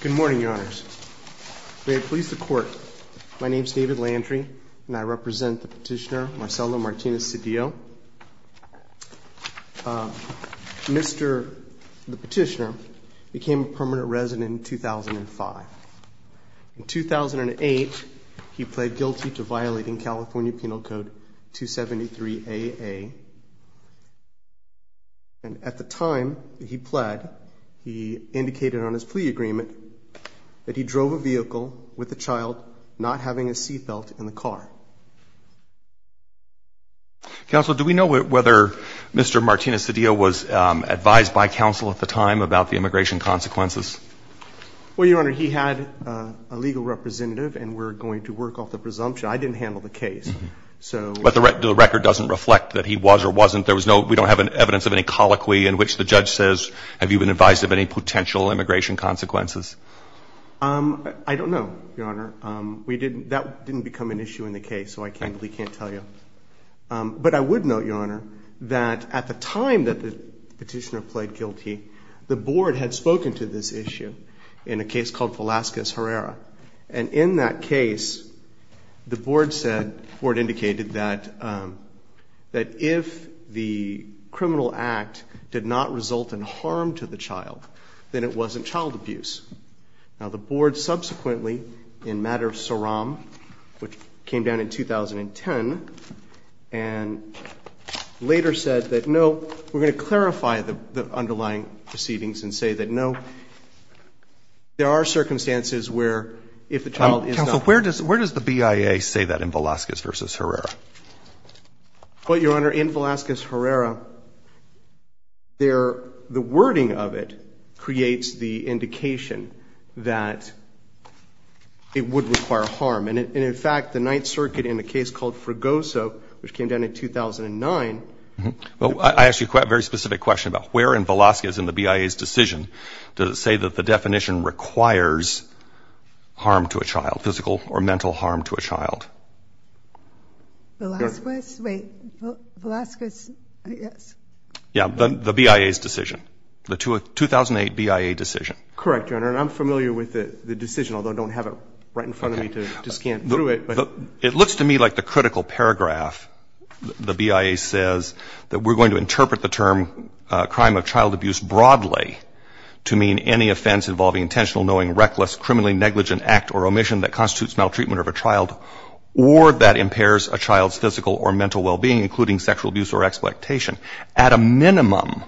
Good morning, your honors. May it please the court, my name is David Landry and I represent the petitioner Marcelo Martinez-Cedillo. The petitioner became a permanent resident in 2005. In 2008, he pled guilty to violating California Penal Code 273AA. And at the time that he pled, he indicated on his plea agreement that he drove a vehicle with a child not having a seat belt in the car. Counsel, do we know whether Mr. Martinez-Cedillo was advised by counsel at the time about the immigration consequences? Well, your honor, he had a legal representative and we're going to work off the presumption. I didn't handle the case. But the record doesn't reflect that he was or wasn't. There was no, we don't have evidence of any colloquy in which the judge says, have you been advised of any potential immigration consequences? I don't know, your honor. We didn't, that didn't become an issue in the case, so I can't tell you. But I would note, your honor, that at the time that the petitioner pled guilty, the board had spoken to this issue in a case called Velazquez-Herrera. And in that case, the board said, the board indicated that if the criminal act did not result in harm to the child, then it wasn't child abuse. Now, the board subsequently, in matter of SORAM, which came down in 2010, and later said that no, we're going to clarify the underlying proceedings and say that no, there are circumstances where if the child is not. Counsel, where does the BIA say that in Velazquez v. Herrera? Well, your honor, in Velazquez-Herrera, the wording of it creates the indication that it would require harm. And in fact, the Ninth Circuit in a case called Fregoso, which came down in 2009. Well, I ask you a very specific question about where in Velazquez in the BIA's decision does it say that the definition requires harm to a child, physical or mental harm to a child? Velazquez? Wait. Velazquez, yes. Yeah, the BIA's decision. The 2008 BIA decision. Correct, your honor. And I'm familiar with the decision, although I don't have it right in front of me to scan through it. It looks to me like the critical paragraph the BIA says that we're going to interpret the term crime of child abuse broadly to mean any offense involving intentional, knowing, reckless, criminally negligent act or omission that constitutes maltreatment of a child or that impairs a child's physical or mental well-being, including sexual abuse or exploitation. At a minimum,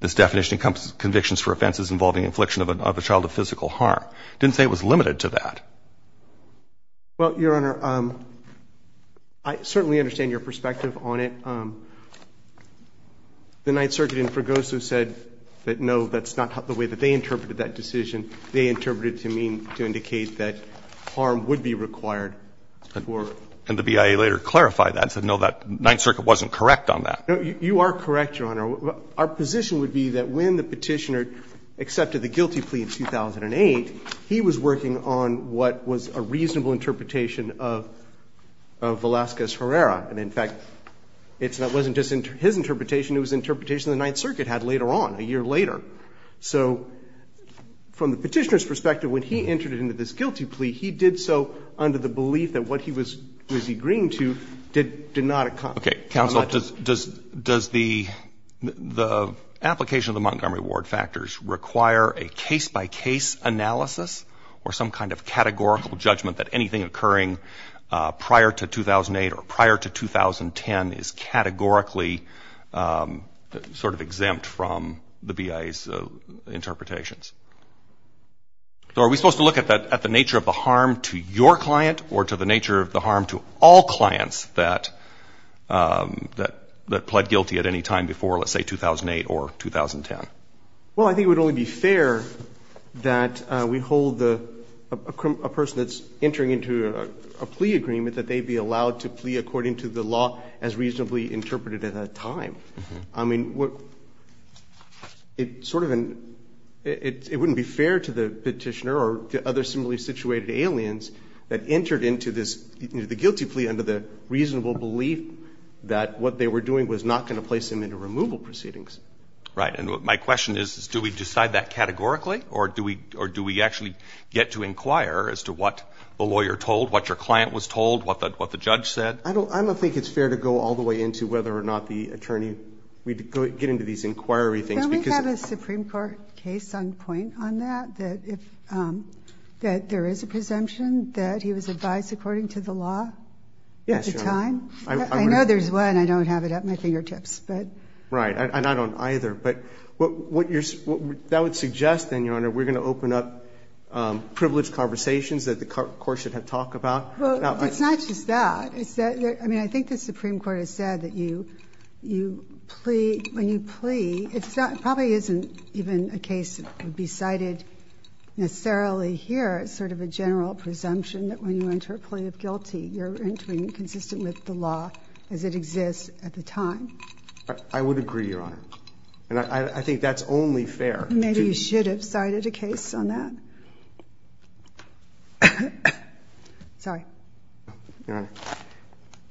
this definition encompasses convictions for offenses involving infliction of a child of physical harm. Didn't say it was limited to that. Well, your honor, I certainly understand your perspective on it. The Ninth Circuit in Fregoso said that, no, that's not the way that they interpreted that decision. They interpreted it to mean, to indicate that harm would be required. And the BIA later clarified that and said, no, that Ninth Circuit wasn't correct on that. You are correct, your honor. But our position would be that when the Petitioner accepted the guilty plea in 2008, he was working on what was a reasonable interpretation of Velazquez-Herrera. And, in fact, it wasn't just his interpretation. It was an interpretation the Ninth Circuit had later on, a year later. So from the Petitioner's perspective, when he entered into this guilty plea, he did so under the belief that what he was agreeing to did not accomplish. Okay. Counsel, does the application of the Montgomery Ward factors require a case-by-case analysis or some kind of categorical judgment that anything occurring prior to 2008 or prior to 2010 is categorically sort of exempt from the BIA's interpretations? So are we supposed to look at the nature of the harm to your client or to the nature of the harm to all clients that pled guilty at any time before, let's say, 2008 or 2010? Well, I think it would only be fair that we hold a person that's entering into a plea agreement that they be allowed to plea according to the law as reasonably interpreted at that time. I mean, it sort of — it wouldn't be fair to the Petitioner or to other similarly situated aliens that entered into this guilty plea under the reasonable belief that what they were doing was not going to place them into removal proceedings. Right. And my question is, do we decide that categorically, or do we actually get to inquire as to what the lawyer told, what your client was told, what the judge said? I don't think it's fair to go all the way into whether or not the attorney — we get into these inquiry things because — Can we have a Supreme Court case on point on that, that if — that there is a presumption that he was advised according to the law at the time? Yes, Your Honor. I know there's one. I don't have it at my fingertips, but — Right. And I don't either. But what you're — that would suggest, then, Your Honor, we're going to open up privileged conversations that the court should have talked about. Well, it's not just that. It's that — I mean, I think the Supreme Court has said that you — you plea — when you plea, it probably isn't even a case that would be cited necessarily here, sort of a general presumption that when you enter a plea of guilty, you're entering consistent with the law as it exists at the time. I would agree, Your Honor. And I think that's only fair. Maybe you should have cited a case on that. Sorry. Your Honor.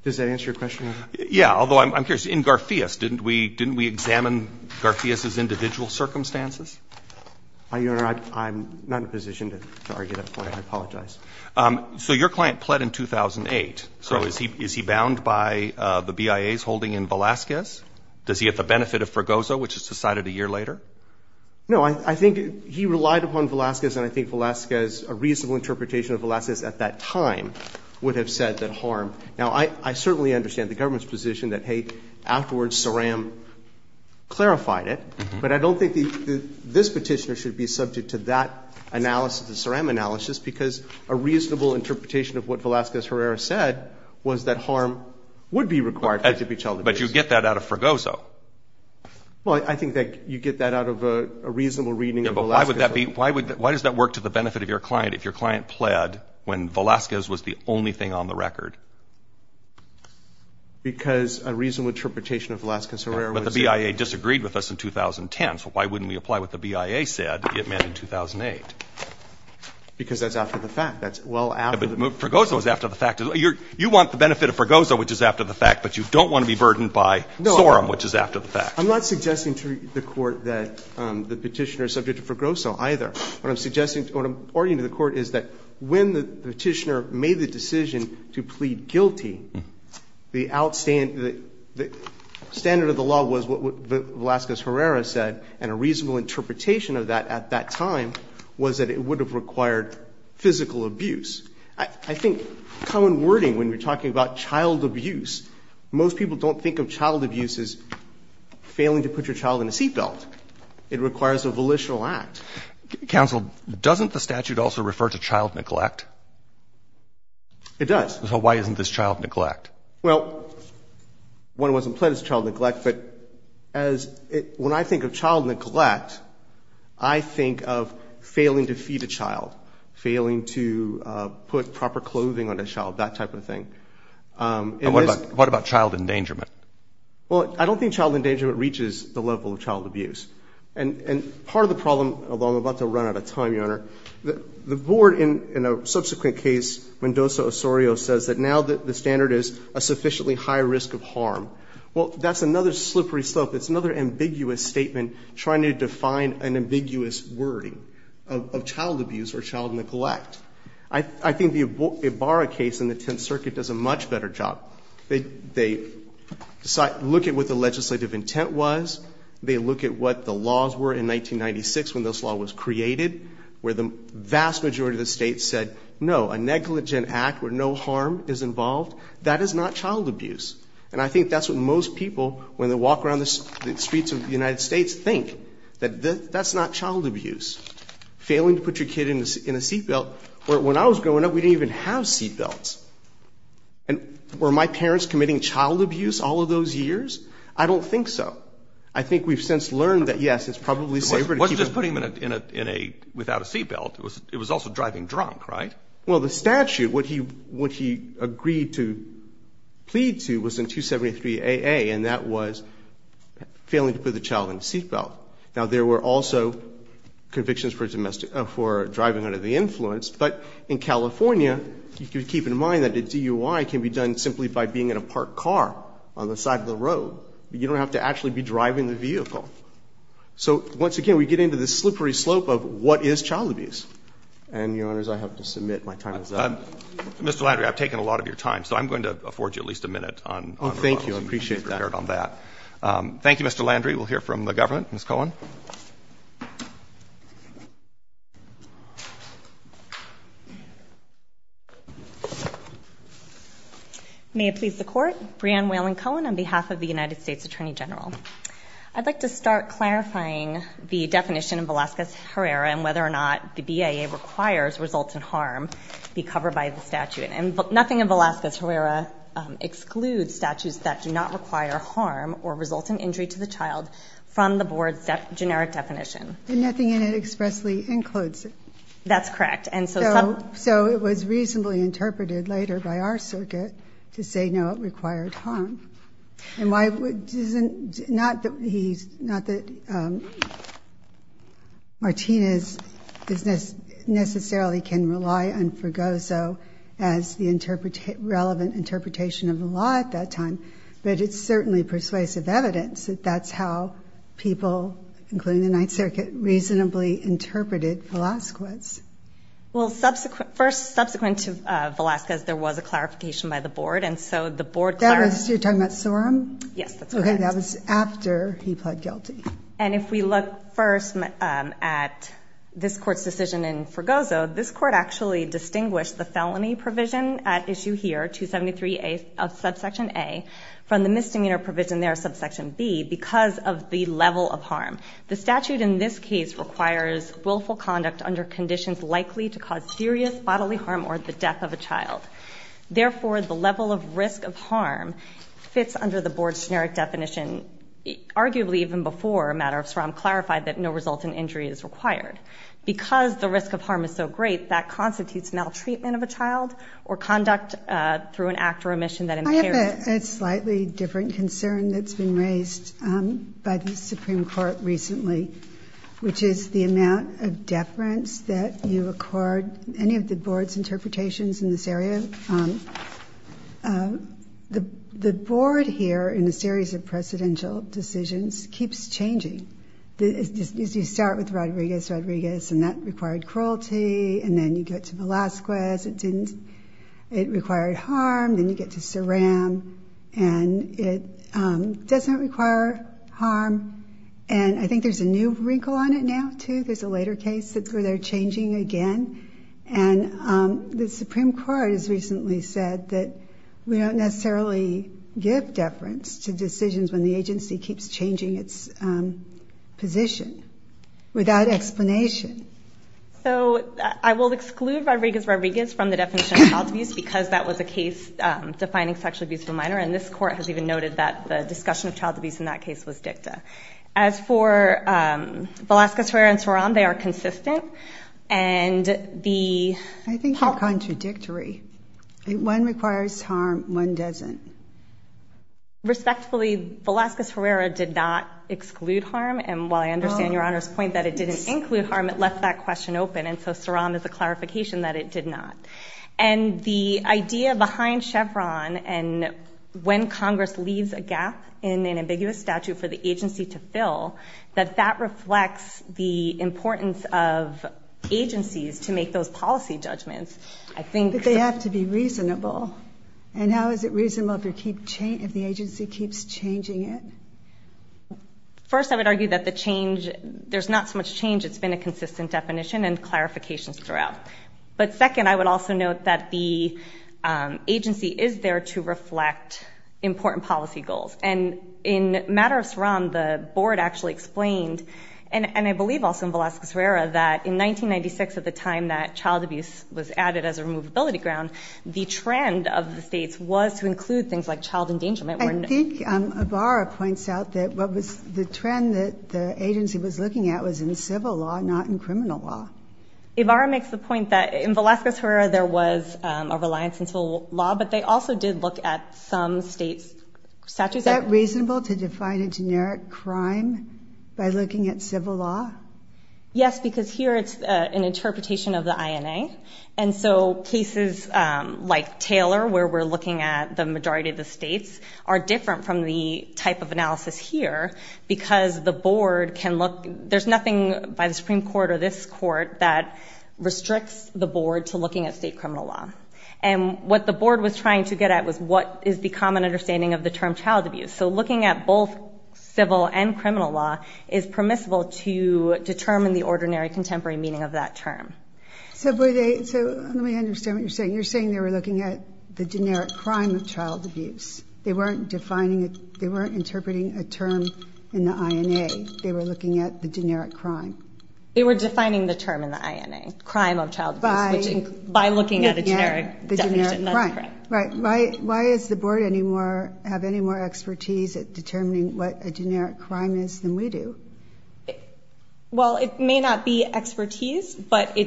Does that answer your question, Your Honor? Yeah. Although I'm curious. In Garfias, didn't we — didn't we examine Garfias's individual circumstances? Your Honor, I'm not in a position to argue that point. I apologize. So your client pled in 2008. Correct. So is he bound by the BIA's holding in Velazquez? Does he get the benefit of Fregoso, which is decided a year later? No. I think he relied upon Velazquez, and I think Velazquez — a reasonable interpretation of Velazquez at that time would have said that harm — now, I certainly understand the government's position that, hey, afterwards, Saram clarified it. But I don't think this Petitioner should be subject to that analysis, the Saram analysis, because a reasonable interpretation of what Velazquez-Herrera said was that harm would be required. But you get that out of Fregoso. Well, I think that you get that out of a reasonable reading of Velazquez. Yeah, but why would that be — why does that work to the benefit of your client if your client pled when Velazquez was the only thing on the record? Because a reasonable interpretation of Velazquez-Herrera was — But the BIA disagreed with us in 2010, so why wouldn't we apply what the BIA said it meant in 2008? Because that's after the fact. That's well after the fact. But Fregoso is after the fact. You want the benefit of Fregoso, which is after the fact, but you don't want to be burdened by Saram, which is after the fact. I'm not suggesting to the Court that the Petitioner is subject to Fregoso either. What I'm suggesting — what I'm arguing to the Court is that when the Petitioner made the decision to plead guilty, the outstand — the standard of the law was what Velazquez-Herrera said, and a reasonable interpretation of that at that time was that it would have required physical abuse. I think common wording when you're talking about child abuse, most people don't think of child abuse as failing to put your child in a seat belt. It requires a volitional act. Counsel, doesn't the statute also refer to child neglect? It does. So why isn't this child neglect? Well, one wasn't pled as child neglect, but as it — when I think of child neglect, I think of failing to feed a child, failing to put proper clothing on a child, that type of thing. And what about child endangerment? Well, I don't think child endangerment reaches the level of child abuse. And part of the problem, although I'm about to run out of time, Your Honor, the Board in a subsequent case, Mendoza-Osorio, says that now the standard is a sufficiently high risk of harm. Well, that's another slippery slope. It's another ambiguous statement trying to define an ambiguous wording of child abuse or child neglect. I think the Ibarra case in the Tenth Circuit does a much better job. They look at what the legislative intent was. They look at what the laws were in 1996 when this law was created, where the vast majority of the states said no, a negligent act where no harm is involved, that is not child abuse. And I think that's what most people, when they walk around the streets of the United States, think, that that's not child abuse. Failing to put your kid in a seatbelt, where when I was growing up, we didn't even have seatbelts. And were my parents committing child abuse all of those years? I don't think so. I think we've since learned that, yes, it's probably safer to keep a child. It wasn't just putting him in a, in a, without a seatbelt. It was also driving drunk, right? Well, the statute, what he, what he agreed to plead to was in 273AA, and that was failing to put the child in a seatbelt. Now, there were also convictions for driving under the influence. But in California, you can keep in mind that a DUI can be done simply by being in a parked car on the side of the road. You don't have to actually be driving the vehicle. So once again, we get into this slippery slope of what is child abuse. And, Your Honors, I have to submit. My time is up. Mr. Landry, I've taken a lot of your time. So I'm going to afford you at least a minute on those. Oh, thank you. I appreciate that. Thank you, Mr. Landry. We'll hear from the government. Ms. Cohen. May it please the Court. Breanne Whelan-Cohen on behalf of the United States Attorney General. I'd like to start clarifying the definition of Velazquez-Herrera and whether or not the BIA requires results in harm be covered by the statute. And nothing in Velazquez-Herrera excludes statutes that do not require harm or result in injury to the child from the Board's generic definition. And nothing in it expressly includes it. That's correct. So it was reasonably interpreted later by our circuit to say no, it required harm. Not that Martinez necessarily can rely on Fregoso as the relevant interpretation of the law at that time, but it's certainly persuasive evidence that that's how people, including the Ninth Circuit, reasonably interpreted Velazquez. Well, first, subsequent to Velazquez, there was a clarification by the Board, and so the Board clarified. You're talking about Sorum? Yes, that's correct. Okay, that was after he pled guilty. And if we look first at this Court's decision in Fregoso, this Court actually distinguished the felony provision at issue here, 273A of subsection A, from the misdemeanor provision there, subsection B, because of the level of harm. The statute in this case requires willful conduct under conditions likely to cause serious bodily harm or the death of a child. Therefore, the level of risk of harm fits under the Board's generic definition, arguably even before a matter of Sorum clarified that no result in injury is required. Because the risk of harm is so great, that constitutes maltreatment of a child or conduct through an act or omission that impairs it. I have a slightly different concern that's been raised by the Supreme Court recently, which is the amount of deference that you accord any of the Board's decisions in this area. The Board here, in a series of precedential decisions, keeps changing. You start with Rodriguez, Rodriguez, and that required cruelty. And then you get to Velazquez. It required harm. Then you get to Sorum, and it doesn't require harm. And I think there's a new wrinkle on it now, too. There's a later case where they're changing again. And the Supreme Court has recently said that we don't necessarily give deference to decisions when the agency keeps changing its position without explanation. So I will exclude Rodriguez, Rodriguez from the definition of child abuse because that was a case defining sexual abuse of a minor. And this Court has even noted that the discussion of child abuse in that case was dicta. As for Velazquez, Herrera, and Sorum, they are consistent. I think they're contradictory. One requires harm, one doesn't. Respectfully, Velazquez-Herrera did not exclude harm. And while I understand Your Honor's point that it didn't include harm, it left that question open. And so Sorum is a clarification that it did not. And the idea behind Chevron and when Congress leaves a gap in an ambiguous statute for the agency to fill, that that reflects the importance of agencies to make those policy judgments. But they have to be reasonable. And how is it reasonable if the agency keeps changing it? First, I would argue that there's not so much change. It's been a consistent definition and clarifications throughout. But second, I would also note that the agency is there to reflect important policy goals. And in matter of Sorum, the board actually explained, and I believe also in Velazquez-Herrera, that in 1996 at the time that child abuse was added as a removability ground, the trend of the states was to include things like child endangerment. I think Ibarra points out that what was the trend that the agency was looking at was in civil law, not in criminal law. Ibarra makes the point that in Velazquez-Herrera there was a reliance in criminal law, but they also did look at some states' statutes. Is that reasonable to define a generic crime by looking at civil law? Yes, because here it's an interpretation of the INA. And so cases like Taylor, where we're looking at the majority of the states, are different from the type of analysis here because the board can look. There's nothing by the Supreme Court or this court that restricts the board to looking at state criminal law. And what the board was trying to get at was what is the common understanding of the term child abuse. So looking at both civil and criminal law is permissible to determine the ordinary contemporary meaning of that term. So let me understand what you're saying. You're saying they were looking at the generic crime of child abuse. They weren't defining it. They weren't interpreting a term in the INA. They were looking at the generic crime. They were defining the term in the INA, crime of child abuse, by looking at a generic definition. That's correct. Right. Why does the board have any more expertise at determining what a generic crime is than we do? Well, it may not be expertise, but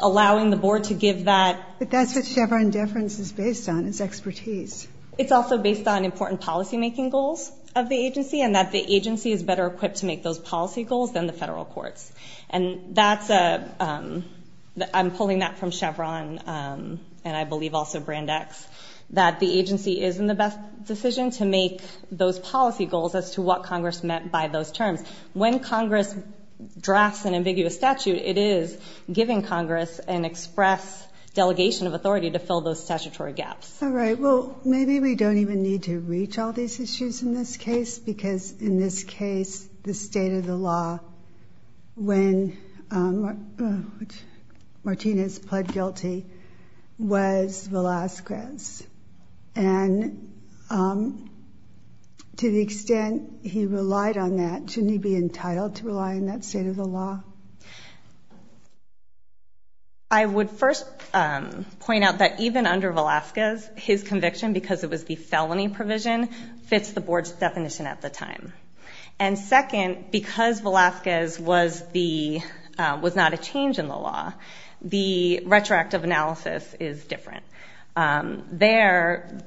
allowing the board to give that. But that's what Chevron Deference is based on, is expertise. It's also based on important policymaking goals of the agency and that the agency is better equipped to make those policy goals than the federal courts. I'm pulling that from Chevron and I believe also Brandeis, that the agency is in the best decision to make those policy goals as to what Congress meant by those terms. When Congress drafts an ambiguous statute, it is giving Congress an express delegation of authority to fill those statutory gaps. All right. Well, maybe we don't even need to reach all these issues in this case because, in this case, the state of the law when Martinez pled guilty was Velazquez. And to the extent he relied on that, shouldn't he be entitled to rely on that state of the law? I would first point out that even under Velazquez, his conviction, because it was the felony provision, fits the board's definition at the time. And second, because Velazquez was not a change in the law, the retroactive analysis is different. There,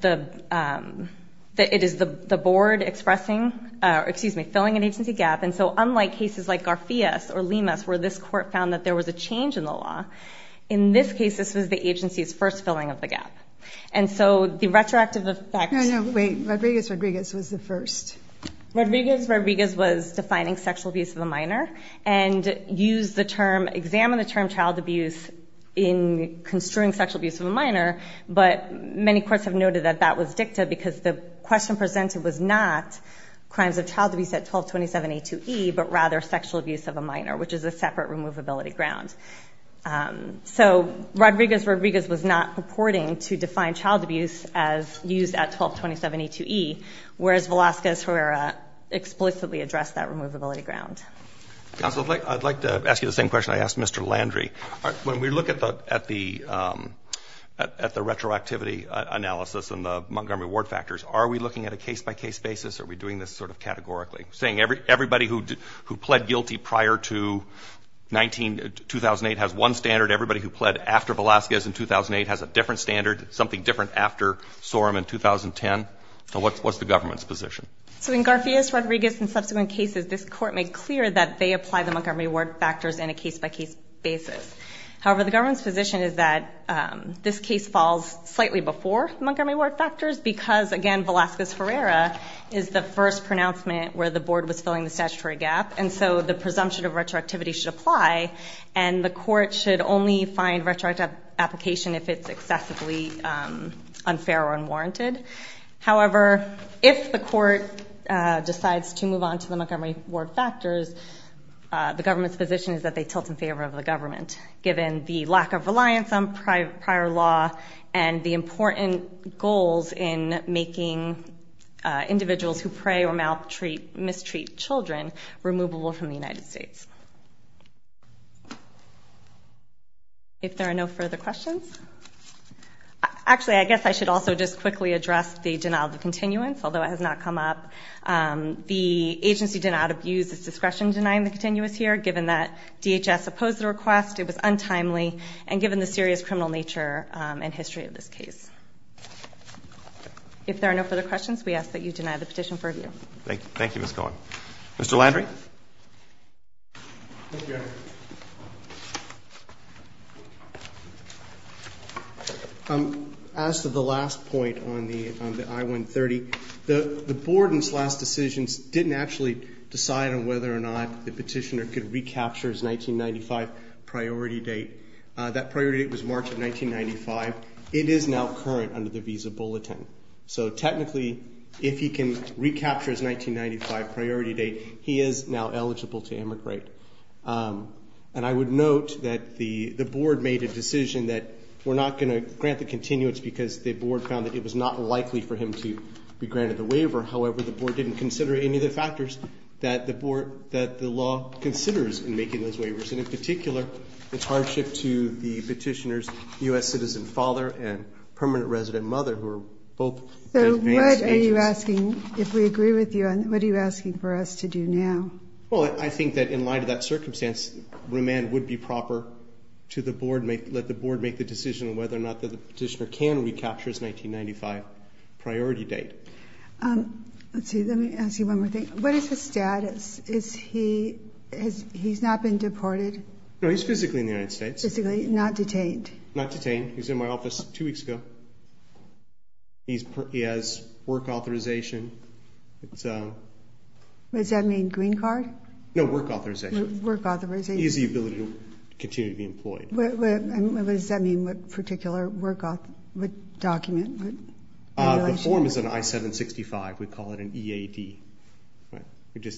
it is the board filling an agency gap, and so unlike cases like Garfias or Limas, where this court found that there was a change in the law, and so the retroactive effect... No, no, wait. Rodriguez-Rodriguez was the first. Rodriguez-Rodriguez was defining sexual abuse of a minor and used the term, examined the term child abuse in construing sexual abuse of a minor, but many courts have noted that that was dicta because the question presented was not crimes of child abuse at 1227A2E but rather sexual abuse of a minor, which is a separate removability ground. So Rodriguez-Rodriguez was not purporting to define child abuse as used at 1227A2E, whereas Velazquez-Herrera explicitly addressed that removability ground. Counsel, I'd like to ask you the same question I asked Mr. Landry. When we look at the retroactivity analysis and the Montgomery Ward factors, are we looking at a case-by-case basis, or are we doing this sort of categorically? Saying everybody who pled guilty prior to 2008 has one standard, everybody who pled after Velazquez in 2008 has a different standard, something different after Sorum in 2010. What's the government's position? So in Garfiez, Rodriguez, and subsequent cases, this Court made clear that they apply the Montgomery Ward factors in a case-by-case basis. However, the government's position is that this case falls slightly before Montgomery Ward factors because, again, Velazquez-Herrera is the first pronouncement where the Board was filling the statutory gap, and so the presumption of retroactivity should apply, and the Court should only find retroactive application if it's excessively unfair or unwarranted. However, if the Court decides to move on to the Montgomery Ward factors, the government's position is that they tilt in favor of the government, given the lack of reliance on prior law and the important goals in making individuals who pray or maltreat, mistreat children removable from the United States. If there are no further questions? Actually, I guess I should also just quickly address the denial of continuance, although it has not come up. The agency did not abuse its discretion in denying the continuance here, given that DHS opposed the request, it was untimely, and given the serious criminal nature and history of this case. If there are no further questions, we ask that you deny the petition for review. Thank you, Ms. Cohen. Mr. Landry? As to the last point on the I-130, the Board in its last decisions didn't actually decide on whether or not the petitioner could recapture his 1995 priority date. That priority date was March of 1995. It is now current under the Visa Bulletin. So technically, if he can recapture his 1995 priority date, he is now eligible to immigrate. And I would note that the Board made a decision that we're not going to grant the continuance because the Board found that it was not likely for him to be granted the waiver. However, the Board didn't consider any of the factors that the Board, that the law considers in making those waivers. And in particular, it's hardship to the petitioner's U.S. citizen father and permanent resident mother, who are both advanced agents. So what are you asking, if we agree with you, what are you asking for us to do now? Well, I think that in light of that circumstance, remand would be proper to the Board, let the Board make the decision on whether or not the petitioner can recapture his 1995 priority date. Let me ask you one more thing. What is his status? He's not been deported? No, he's physically in the United States. Physically, not detained? Not detained. He was in my office two weeks ago. He has work authorization. What does that mean, green card? No, work authorization. Work authorization. He has the ability to continue to be employed. What does that mean, what particular work document? The form is an I-765. We call it an EAD.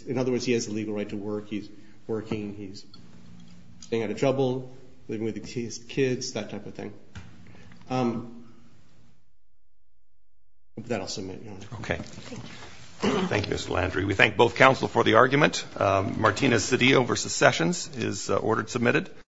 In other words, he has the legal right to work. He's working. He's staying out of trouble, living with his kids, that type of thing. That I'll submit. Okay. Thank you, Mr. Landry. We thank both counsel for the argument. Martinez-Cedillo v. Sessions is ordered submitted.